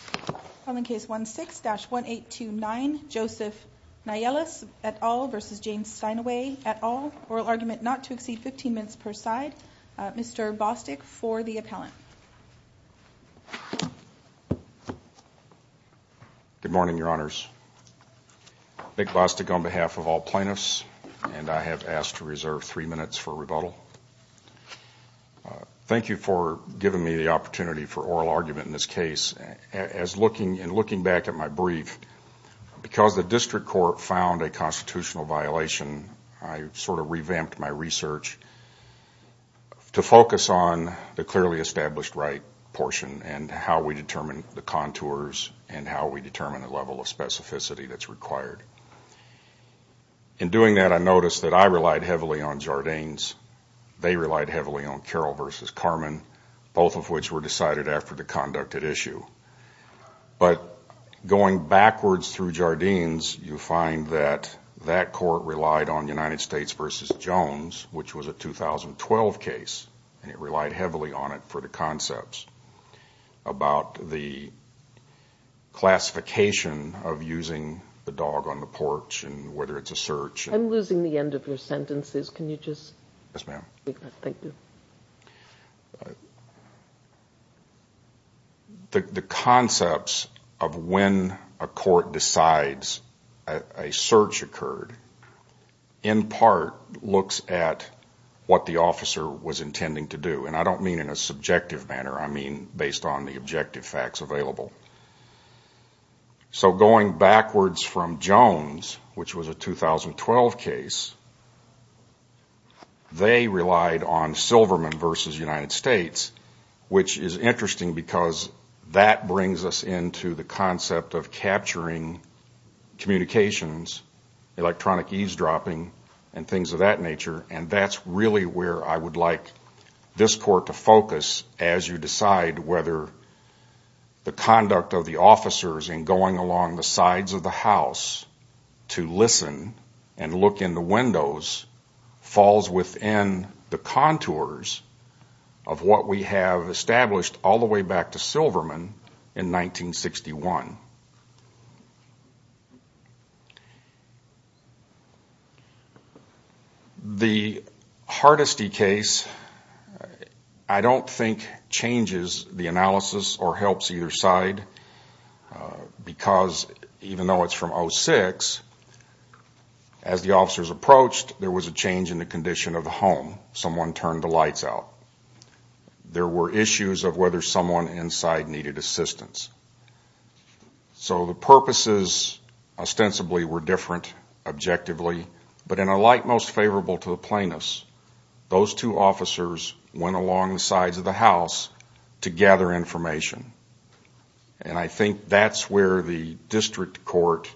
at all. Oral argument not to exceed 15 minutes per side. Mr. Bostick for the appellant. Good morning, your honors. Nick Bostick on behalf of all plaintiffs and I have asked to reserve three minutes for rebuttal. Thank you for giving me the opportunity for oral as looking back at my brief, because the district court found a constitutional violation, I sort of revamped my research to focus on the clearly established right portion and how we determine the contours and how we determine the level of specificity that's required. In doing that, I noticed that I relied heavily on Jardines. They relied heavily on Carroll v. Carmen, both of which were decided after the conduct at issue. But going backwards through Jardines, you find that that court relied on United States v. Jones, which was a 2012 case, and it relied heavily on it for the concepts about the classification of using the dog on the porch and whether it's a search. I'm losing the end of your sentences. Can you repeat that? The concepts of when a court decides a search occurred, in part, looks at what the officer was intending to do. And I don't mean in a subjective manner, I mean based on the objective facts available. So going backwards from Jones, which was a 2012 case, they relied on Silverman v. United States, which is interesting because that brings us into the concept of capturing communications, electronic eavesdropping, and things of that nature. And that's really where I would like this court to focus as you decide whether the conduct of the officers in going along the sides of the house to listen and look in the windows falls within the contours of what we have established all the way back to Silverman in 1961. The Hardesty case I don't think changes the analysis or helps either side because even though it's from 06, as the officers approached there was a change in the condition of the home. Someone turned the lights out. There were issues of whether someone inside needed assistance. So the purposes ostensibly were different objectively but in a light most favorable to the plaintiffs, those two officers went along the sides of the house to gather information. And I think that's where the district court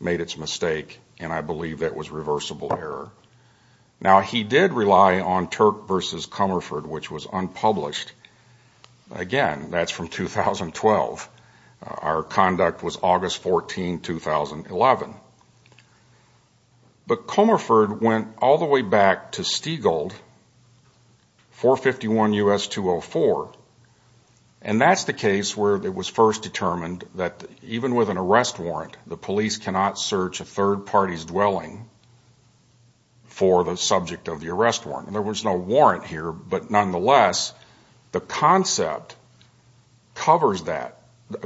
made its mistake and I believe that was reversible error. Now he did rely on Turk v. Comerford which was unpublished. Again, that's from 2012. Our conduct was August 14, 2011. But Comerford went all the way back to Stiegald 451 U.S. 204 and that's the case where it was first determined that even with an arrest warrant the police cannot search a third party's Nonetheless, the concept covers that,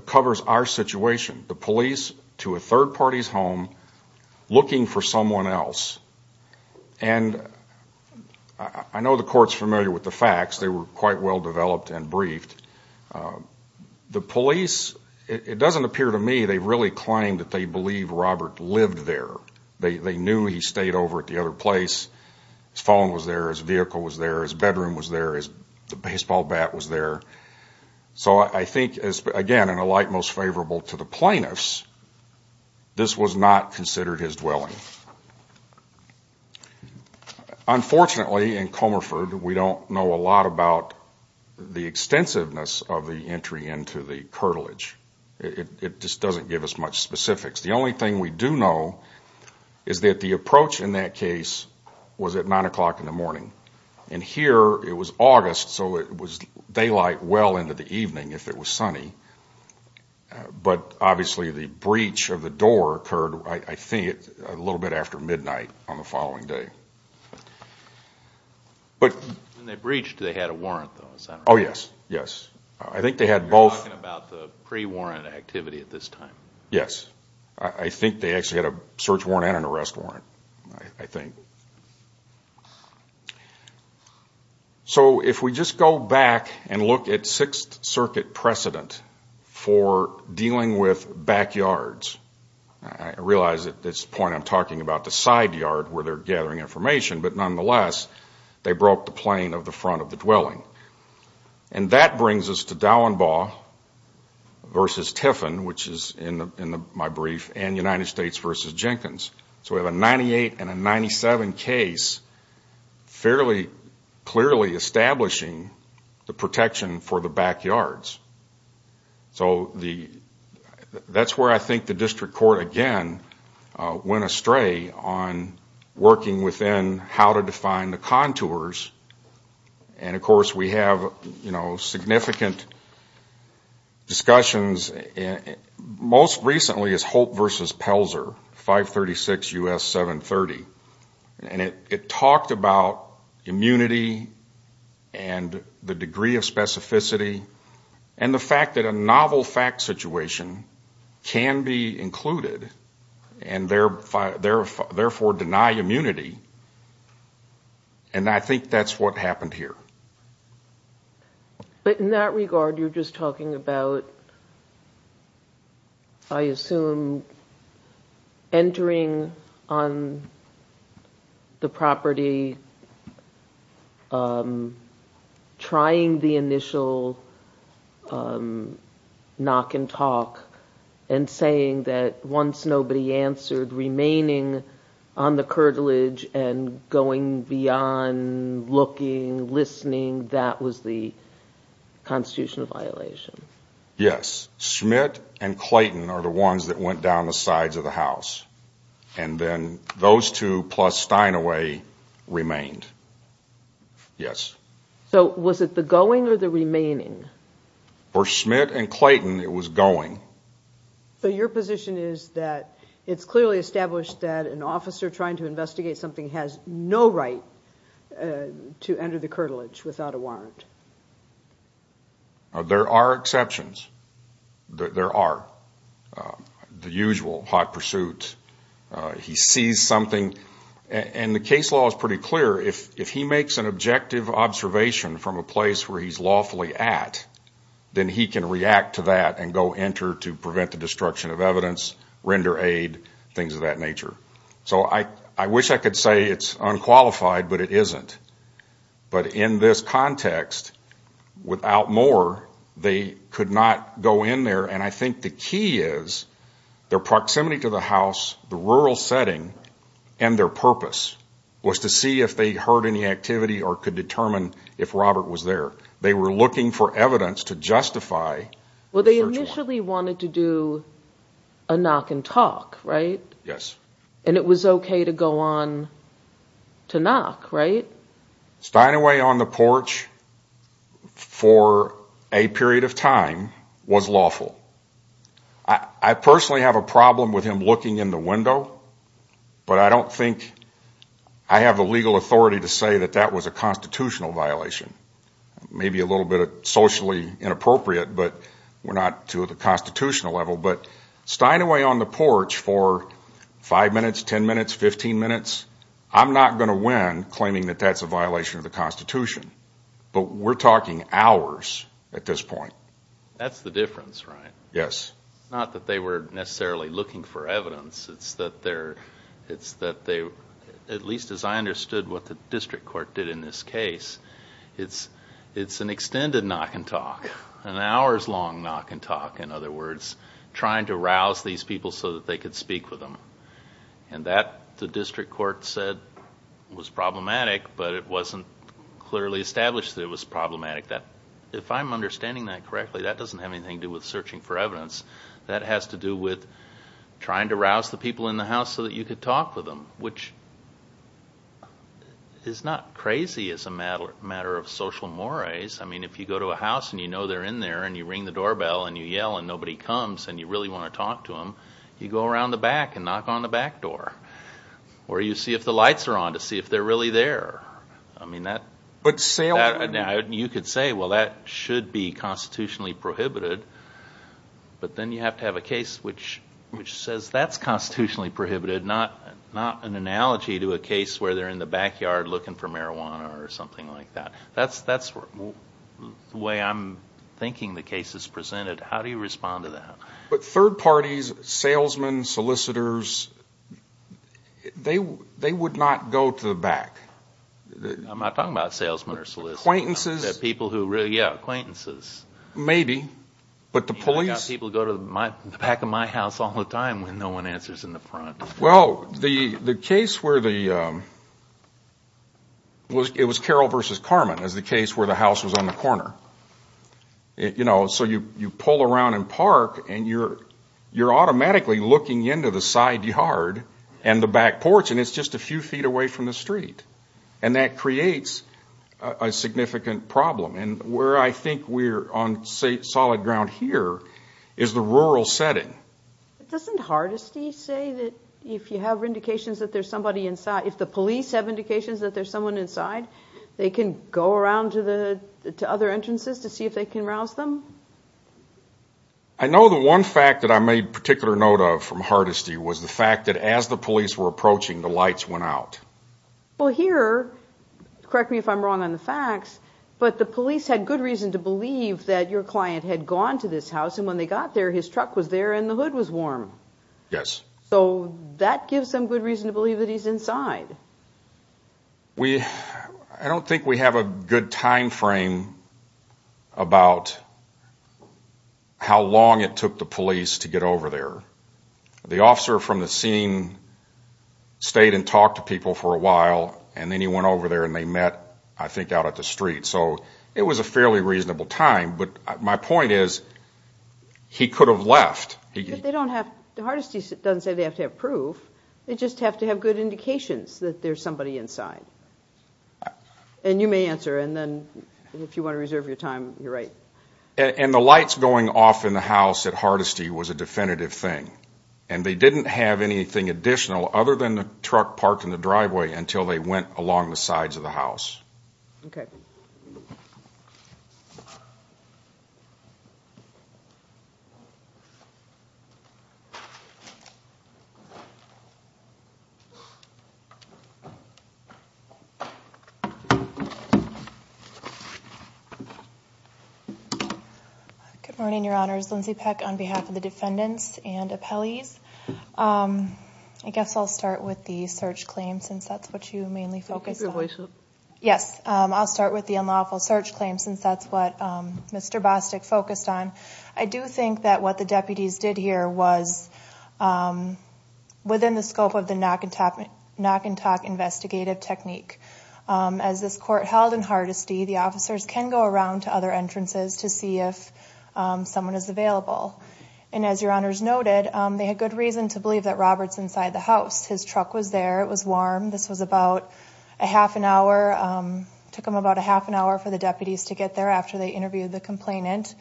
covers our situation. The police to a third party's home looking for someone else. And I know the court's familiar with the facts. They were quite well developed and briefed. The police, it doesn't appear to me they really claim that they believe Robert lived there. They knew he stayed over at the other place. His phone was there, his vehicle was there, his bedroom was there, his baseball bat was there. So I think again in a light most favorable to the plaintiffs, this was not considered his dwelling. Unfortunately in Comerford we don't know a lot about the extensiveness of the entry into the curtilage. It just doesn't give us much specifics. The only thing we that case was at 9 o'clock in the morning. And here it was August so it was daylight well into the evening if it was sunny. But obviously the breach of the door occurred I think a little bit after midnight on the following day. When they breached, they had a warrant though, is that right? Oh yes, yes. I think they had both You're talking about the pre-warrant activity at this time? Yes. I think they actually had a search warrant and an arrest warrant. I think. So if we just go back and look at Sixth Circuit precedent for dealing with backyards, I realize at this point I'm talking about the side yard where they're gathering information, but nonetheless they broke the plane of the front of the dwelling. And that brings us to Dauenbaugh versus Tiffin which is in my brief, and United States versus Jenkins. So we have a 98 and a 97 case fairly clearly establishing the protection for the backyards. So that's where I think the district court again went astray on working within how to define the contours. And of course we have significant discussions. Most recently is Hope versus Pelzer, 536 U.S. 730. And it talked about immunity and the degree of specificity and the fact that a novel fact situation can be included and therefore deny immunity. And I think that's what happened here. But in that regard you're just talking about, I assume, entering on the property, trying the initial knock and talk, and saying that once nobody answered, remaining on the curtilage and going beyond looking, listening, that was the constitutional violation. Yes. Schmidt and Clayton are the ones that went down the sides of the house. And then going or the remaining? For Schmidt and Clayton it was going. So your position is that it's clearly established that an officer trying to investigate something has no right to enter the curtilage without a warrant? There are exceptions. There are. The usual hot pursuit. He sees something. And the case law is pretty clear. If he makes an objective observation from a place where he's lawfully at, then he can react to that and go enter to prevent the destruction of evidence, render aid, things of that nature. So I wish I could say it's unqualified, but it isn't. But in this context, without more, they could not go in there. And I think the key is their was to see if they heard any activity or could determine if Robert was there. They were looking for evidence to justify... Well, they initially wanted to do a knock and talk, right? Yes. And it was okay to go on to knock, right? Stying away on the porch for a period of time was lawful. I personally have a problem with him looking in the window, but I don't think I have the legal authority to say that that was a constitutional violation. Maybe a little bit socially inappropriate, but we're not to the constitutional level. But stying away on the porch for five minutes, ten minutes, fifteen minutes, I'm not going to win claiming that that's a violation of the Constitution. But we're talking hours at this point. That's the difference, right? Yes. Not that they were necessarily looking for evidence. It's that they, at least as I understood what the district court did in this case, it's an extended knock and talk. An hours long knock and talk, in other words, trying to rouse these people so that they could speak with them. And that, the district court said, was problematic, but it wasn't clearly established that it was problematic. If I'm understanding that correctly, that doesn't have anything to do with searching for evidence. That has to do with trying to rouse the people in the house so that you could talk with them, which is not crazy as a matter of social mores. I mean, if you go to a house and you know they're in there and you ring the doorbell and you yell and nobody comes and you really want to talk to them, you go around the back and knock on the back door. Or you see if the lights are on to see if they're really there. You could say, well that should be constitutionally prohibited, but then you have to have a case which says that's constitutionally prohibited, not an analogy to a case where they're in the backyard looking for marijuana or something like that. That's the way I'm thinking the case is presented. How do you respond to that? But third parties, salesmen, solicitors, they would not go to the back. I'm not talking about salesmen or solicitors. Acquaintances. People who really, yeah, acquaintances. Maybe, but the police. I've got people go to the back of my house all the time when no one answers in the front. Well, the case where the, it was Carroll versus Carmen is the case where the house was on the back porch and you're automatically looking into the side yard and the back porch and it's just a few feet away from the street. And that creates a significant problem. And where I think we're on solid ground here is the rural setting. Doesn't Hardesty say that if you have indications that there's somebody inside, if the police have indications that there's someone inside, they can go around to other entrances to see if they can rouse them? I know the one fact that I made particular note of from Hardesty was the fact that as the police were approaching, the lights went out. Well, here, correct me if I'm wrong on the facts, but the police had good reason to believe that your client had gone to this house and when they got there, his truck was there and the hood was warm. Yes. So that gives them good reason to believe that he's inside. I don't think we have a good time frame about how long it took the police to get over there. The officer from the scene stayed and talked to people for a while and then he went over there and they met, I think, out at the street. So it was a fairly reasonable time. But my point is, he could have left. They don't have, Hardesty doesn't say they have to have proof. They just have to have good indications that there's somebody inside. And you may answer and then if you want to reserve your time, you're right. And the lights going off in the house at Hardesty was a definitive thing. And they didn't have anything additional other than the truck parked in the driveway until they went along the sides of the house. Good morning, Your Honors. Lindsey Peck on behalf of the defendants and appellees. I guess I'll start with the search claim since that's what you mainly focus on. Keep your voice up. Yes. I'll start with the unlawful search claim since that's what Mr. Bostic focused on. I think it's within the scope of the knock-and-talk investigative technique. As this court held in Hardesty, the officers can go around to other entrances to see if someone is available. And as Your Honors noted, they had good reason to believe that Robert's inside the house. His truck was there. It was warm. This was about a half an hour, took them about a half an hour for the deputies to get there after they interviewed the complainant.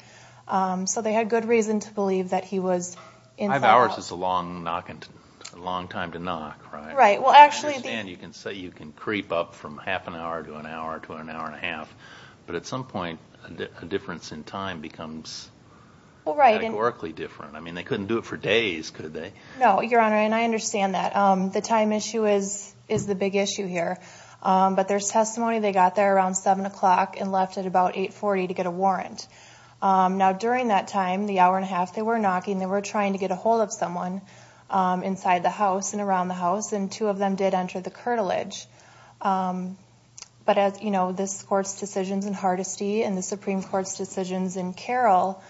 So they had good reason to believe that Robert's inside the house. Five hours is a long time to knock. I understand you can say you can creep up from half an hour to an hour to an hour and a half. But at some point, a difference in time becomes metaphorically different. I mean, they couldn't do it for days, could they? No, Your Honor, and I understand that. The time issue is the big issue here. But there's testimony they got there around 7 o'clock and left at about 840 to get a warrant. Now they were trying to get a hold of someone inside the house and around the house, and two of them did enter the curtilage. But as you know, this court's decisions in Hardesty and the Supreme Court's decisions in Carroll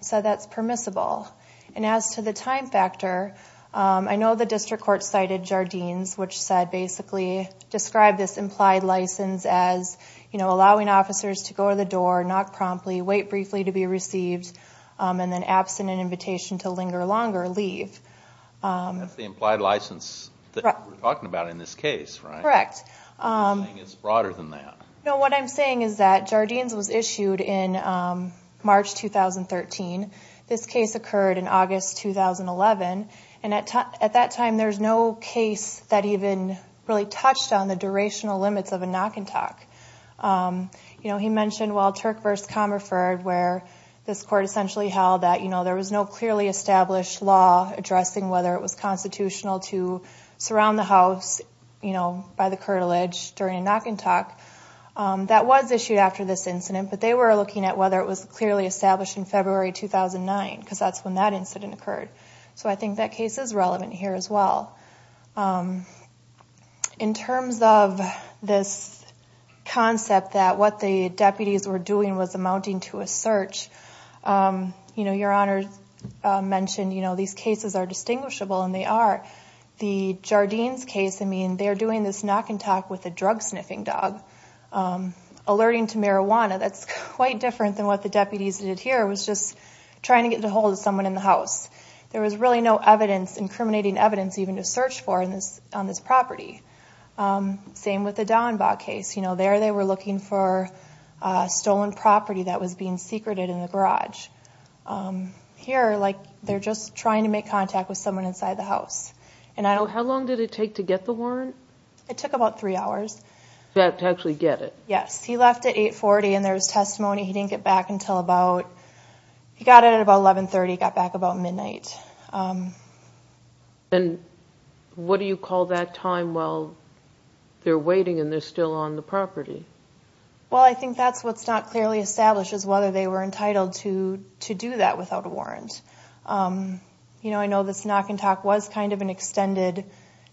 said that's permissible. And as to the time factor, I know the district court cited Jardines, which said basically, described this implied license as allowing officers to go to the door, knock promptly, wait briefly to be received, and then absent an invitation to linger longer, leave. That's the implied license that we're talking about in this case, right? Correct. You're saying it's broader than that. No, what I'm saying is that Jardines was issued in March 2013. This case occurred in August 2011, and at that time, there's no case that even really touched on the durational limits of a knock-and-talk. He mentioned, well, Turk v. Comerford, where this court essentially held that there was no clearly established law addressing whether it was constitutional to surround the house by the curtilage during a knock-and-talk. That was issued after this incident, but they were looking at whether it was clearly established in February 2009, because that's when that incident occurred. So I think that case is relevant here as well. In terms of this concept that what the deputies were doing was amounting to a search, your Honor mentioned these cases are distinguishable, and they are. The Jardines case, I mean, they're doing this knock-and-talk with a drug-sniffing dog, alerting to marijuana. That's quite different than what the deputies did here. It was just trying to get ahold of someone in the house. There was really no evidence, incriminating evidence, even to search for on this property. Same with the Daunbaugh case. There they were looking for stolen property that was being secreted in the garage. Here, they're just trying to make contact with someone inside the house. How long did it take to get the warrant? It took about three hours. To actually get it? Yes. He left at 840, and there was testimony. He didn't get back until about, he got it about 1130, got back about midnight. What do you call that time while they're waiting and they're still on the property? I think that's what's not clearly established, is whether they were entitled to do that without a warrant. I know this knock-and-talk was kind of an extended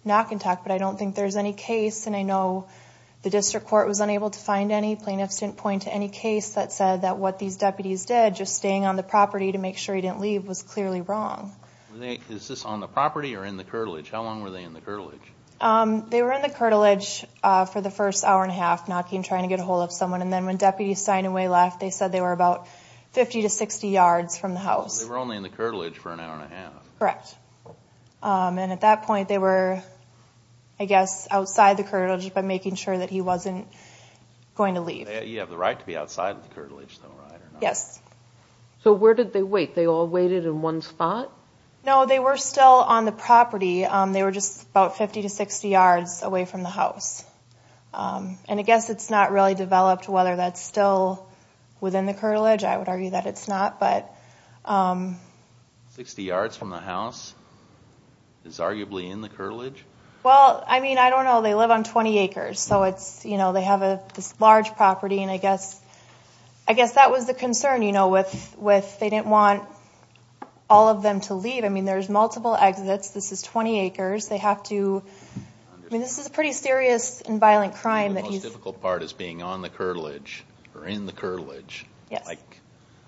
knock-and-talk, but I don't think there's any case, and I know the district court was unable to find any. Plaintiffs didn't point to any case that said that what these deputies did, just staying on the property to make sure he didn't leave, was clearly wrong. Is this on the property or in the curtilage? How long were they in the curtilage? They were in the curtilage for the first hour and a half, knocking, trying to get a hold of someone, and then when Deputy Steinaway left, they said they were about 50 to 60 yards from the house. So they were only in the curtilage for an hour and a half? Correct. And at that point, they were, I guess, outside the curtilage, but making sure that he wasn't going to leave. You have the right to be outside of the curtilage, though, right, or not? Yes. So where did they wait? They all waited in one spot? No, they were still on the property. They were just about 50 to 60 yards away from the house. And I guess it's not really developed whether that's still within the curtilage. I would argue that it's not, but... Sixty yards from the house is arguably in the curtilage? Well, I mean, I don't know. They live on 20 acres, so it's, you know, they have this large property, and I guess that was the concern, you know, with they didn't want all of them to leave. I mean, there's multiple exits. This is 20 acres. They have to... I mean, this is a pretty serious and violent crime that he's... The most difficult part is being on the curtilage, or in the curtilage, like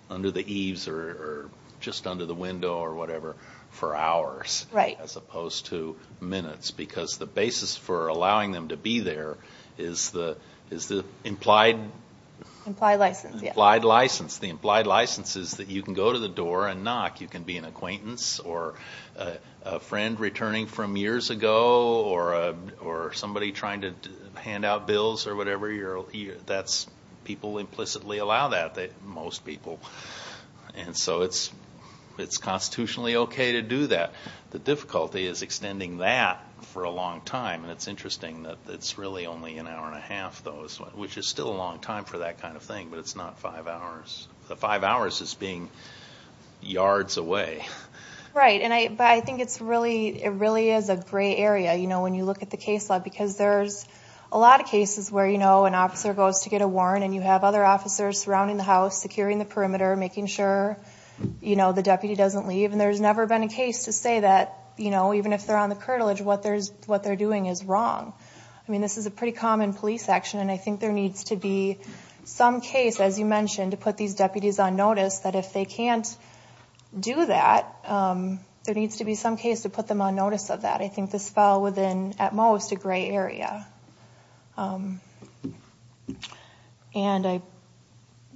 under the eaves or just under the window or whatever, for hours, as opposed to minutes, because the implied... Implied license, yes. Implied license. The implied license is that you can go to the door and knock. You can be an acquaintance or a friend returning from years ago or somebody trying to hand out bills or whatever. People implicitly allow that, most people. And so it's constitutionally okay to do that. The difficulty is extending that for a long time, and it's interesting that it's really only an hour and a half, though, which is still a long time for that kind of thing, but it's not five hours. The five hours is being yards away. Right. But I think it's really... It really is a gray area, you know, when you look at the case log, because there's a lot of cases where, you know, an officer goes to get a warrant and you have other officers surrounding the house, securing the perimeter, making sure, you know, the deputy doesn't leave. And there's never been a case to say that, you know, even if they're on the curtilage, what they're doing is wrong. I mean, this is a pretty common police action, and I think there needs to be some case, as you mentioned, to put these deputies on notice, that if they can't do that, there needs to be some case to put them on notice of that. I think this fell within, at most, a gray area. And I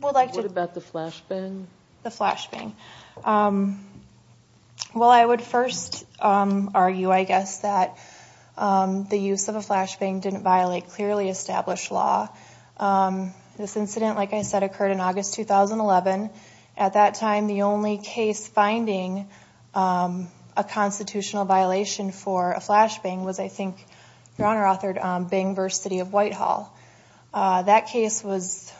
would like to... What about the flash ban? The flash ban. Well, I would first argue, I guess, that the use of a flash ban didn't violate clearly established law. This incident, like I said, occurred in August 2011. At that time, the only case finding a constitutional violation for a flash ban was, I think, Your Honor authored, Bang versus City of Whitehall. That case was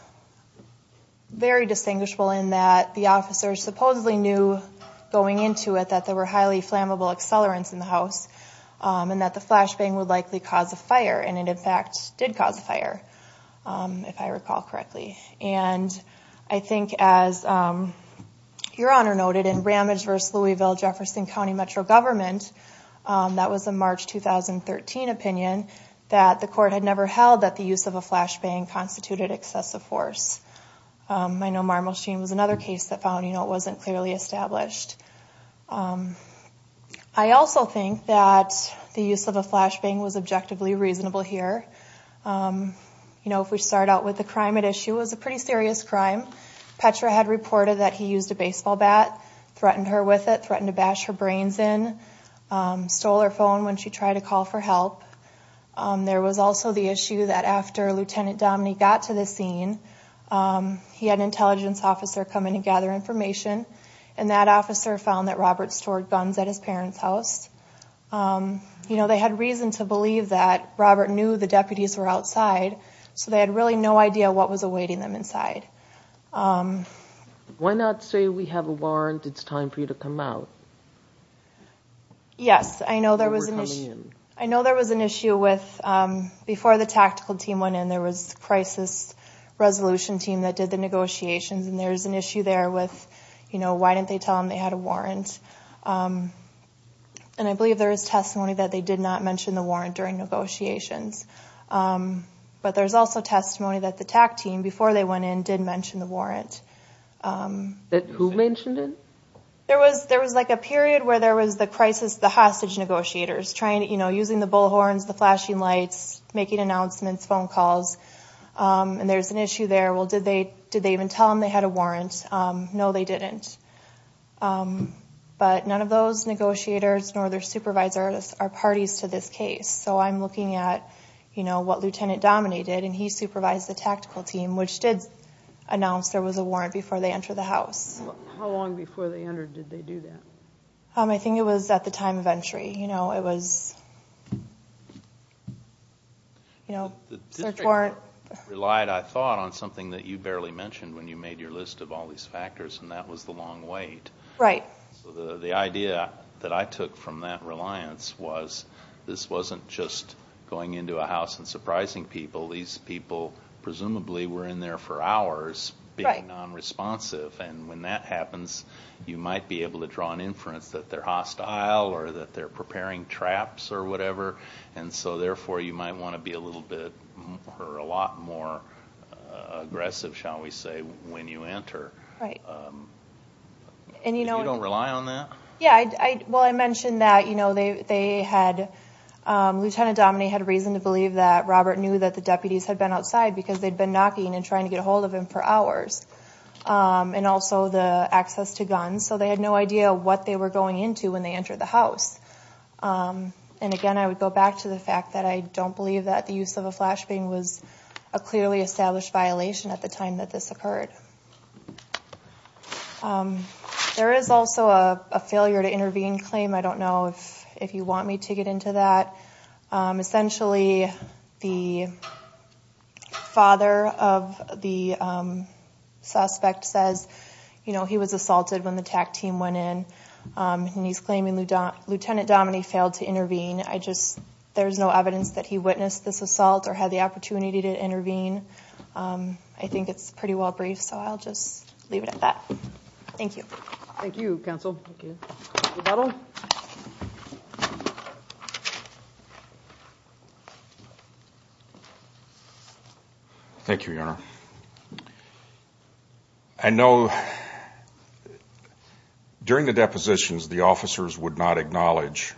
very distinguishable in that the officers supposedly knew, going into it, that there were highly flammable accelerants in the house, and that the flash ban would likely cause a fire. And it, in fact, did cause a fire, if I recall correctly. And I think, as Your Honor noted, in Ramage v. Louisville Jefferson County Metro Government, that was a March 2013 opinion, that the court had never held that the use of a flash ban constituted excessive force. I know Marble Sheen was another case that found it wasn't clearly established. I also think that the use of a flash ban was objectively reasonable here. You know, if we start out with the crime at issue, it was a pretty serious crime. Petra had reported that he used a baseball bat, threatened her with it, threatened to bash her brains in, stole her phone when she tried to call for help. There was also the issue that after Lieutenant Domney got to the scene, he had an intelligence officer come in and gather information, and that officer found that Robert stored guns at his parents' house. You know, they had reason to believe that Robert knew the deputies were outside, so they had really no idea what was awaiting them inside. Why not say, we have a warrant, it's time for you to come out? Yes, I know there was an issue with, before the tactical team went in, there was a crisis resolution team that did the negotiations, and there's an issue there with, you know, why didn't they tell them they had a warrant? And I believe there is testimony that they did not mention the warrant during negotiations. But there's also testimony that the TAC team, before they went in, did mention the warrant. Who mentioned it? There was, there was like a period where there was the crisis, the hostage negotiators, trying to, you know, using the bullhorns, the flashing lights, making announcements, phone calls. And there's an issue there, well, did they even tell them they had a warrant? No, they didn't. But none of those negotiators, nor their supervisors, are parties to this case. So I'm looking at, you know, what Lieutenant Dominate did, and he supervised the tactical team, which did announce there was a warrant before they entered the house. How long before they entered, did they do that? I think it was at the time of entry. You know, it was, you know, search warrant. The district relied, I thought, on something that you barely mentioned when you made your list of all these factors, and that was the long wait. Right. So the idea that I took from that reliance was, this wasn't just going into a house and surprising people. These people presumably were in there for hours, being non-responsive, and when that happens, you might be able to draw an inference that they're hostile or that they're preparing traps or whatever, and so therefore, you might want to be a little bit, or a lot more aggressive, shall we say, when you enter. Right. And you don't rely on that? Yeah, well, I mentioned that, you know, they had, Lieutenant Dominate had reason to believe that Robert knew that the deputies had been outside, because they'd been knocking and also the access to guns, so they had no idea what they were going into when they entered the house. And again, I would go back to the fact that I don't believe that the use of a flashbang was a clearly established violation at the time that this occurred. There is also a failure to intervene claim. I don't know if you want me to get into that. Essentially, the father of the suspect says, you know, he was assaulted when the TAC team went in, and he's claiming Lieutenant Dominate failed to intervene. I just, there's no evidence that he witnessed this assault or had the opportunity to intervene. I think it's pretty well brief, so I'll just leave it at that. Thank you. Thank you, Counsel. Thank you. Thank you, Your Honor. I know during the depositions, the officers would not acknowledge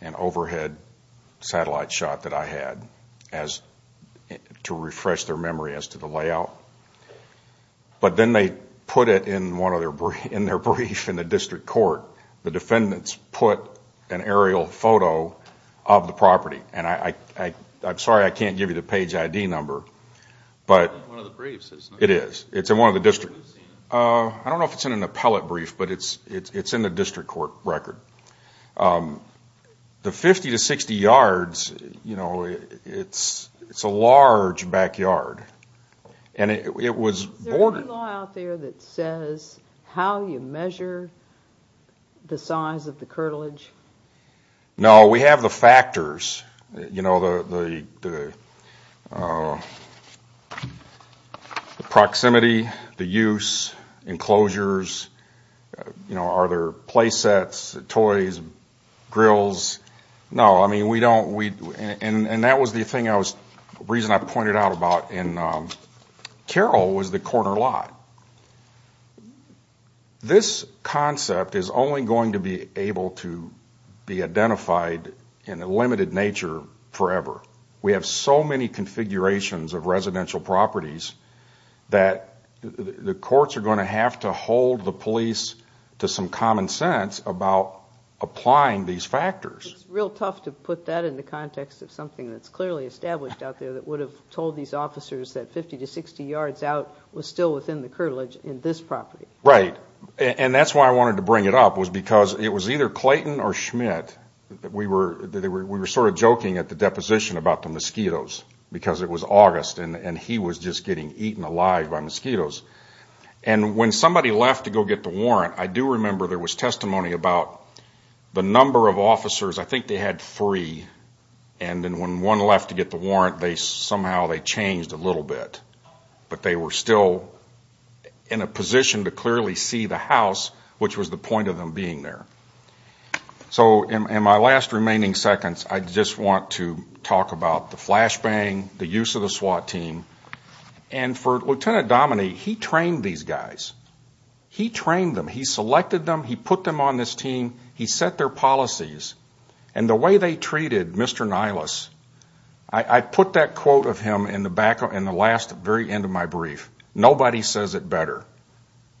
an overhead satellite shot that I had to refresh their memory as to the layout, but then they put it in one of their briefs in the district court. The defendants put an aerial photo of the property, and I'm sorry I can't give you the page ID number, but it is. It's in one of the districts. I don't know if it's in an appellate brief, but it's in the district court record. The 50 to 60 yards, you know, it's a large backyard. Is there any law out there that says how you measure the size of the curtilage? No, we have the factors, you know, the proximity, the use, enclosures, you know, are there play and Carol was the corner lot. This concept is only going to be able to be identified in a limited nature forever. We have so many configurations of residential properties that the courts are going to have to hold the police to some common sense about applying these factors. It's real tough to put that in the context of something that's clearly established out that 50 to 60 yards out was still within the curtilage in this property. Right, and that's why I wanted to bring it up was because it was either Clayton or Schmidt, we were sort of joking at the deposition about the mosquitoes because it was August and he was just getting eaten alive by mosquitoes. And when somebody left to go get the warrant, I do remember there was testimony about the number of officers, I think they had three, and then when one left to get the warrant, somehow they changed a little bit. But they were still in a position to clearly see the house, which was the point of them being there. So in my last remaining seconds, I just want to talk about the flashbang, the use of the SWAT team. And for Lieutenant Dominey, he trained these guys. He trained them, he selected them, he put them on this team, he set their policies. And the way they treated Mr. Nylas, I put that quote of him in the last very end of my brief. Nobody says it better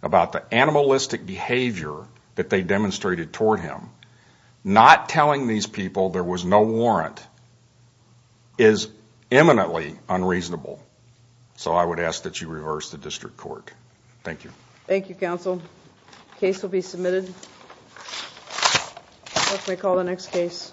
about the animalistic behavior that they demonstrated toward him. Not telling these people there was no warrant is eminently unreasonable. So I would ask that you reverse the district court. Thank you. Thank you, counsel. Case will be submitted. We call the next case.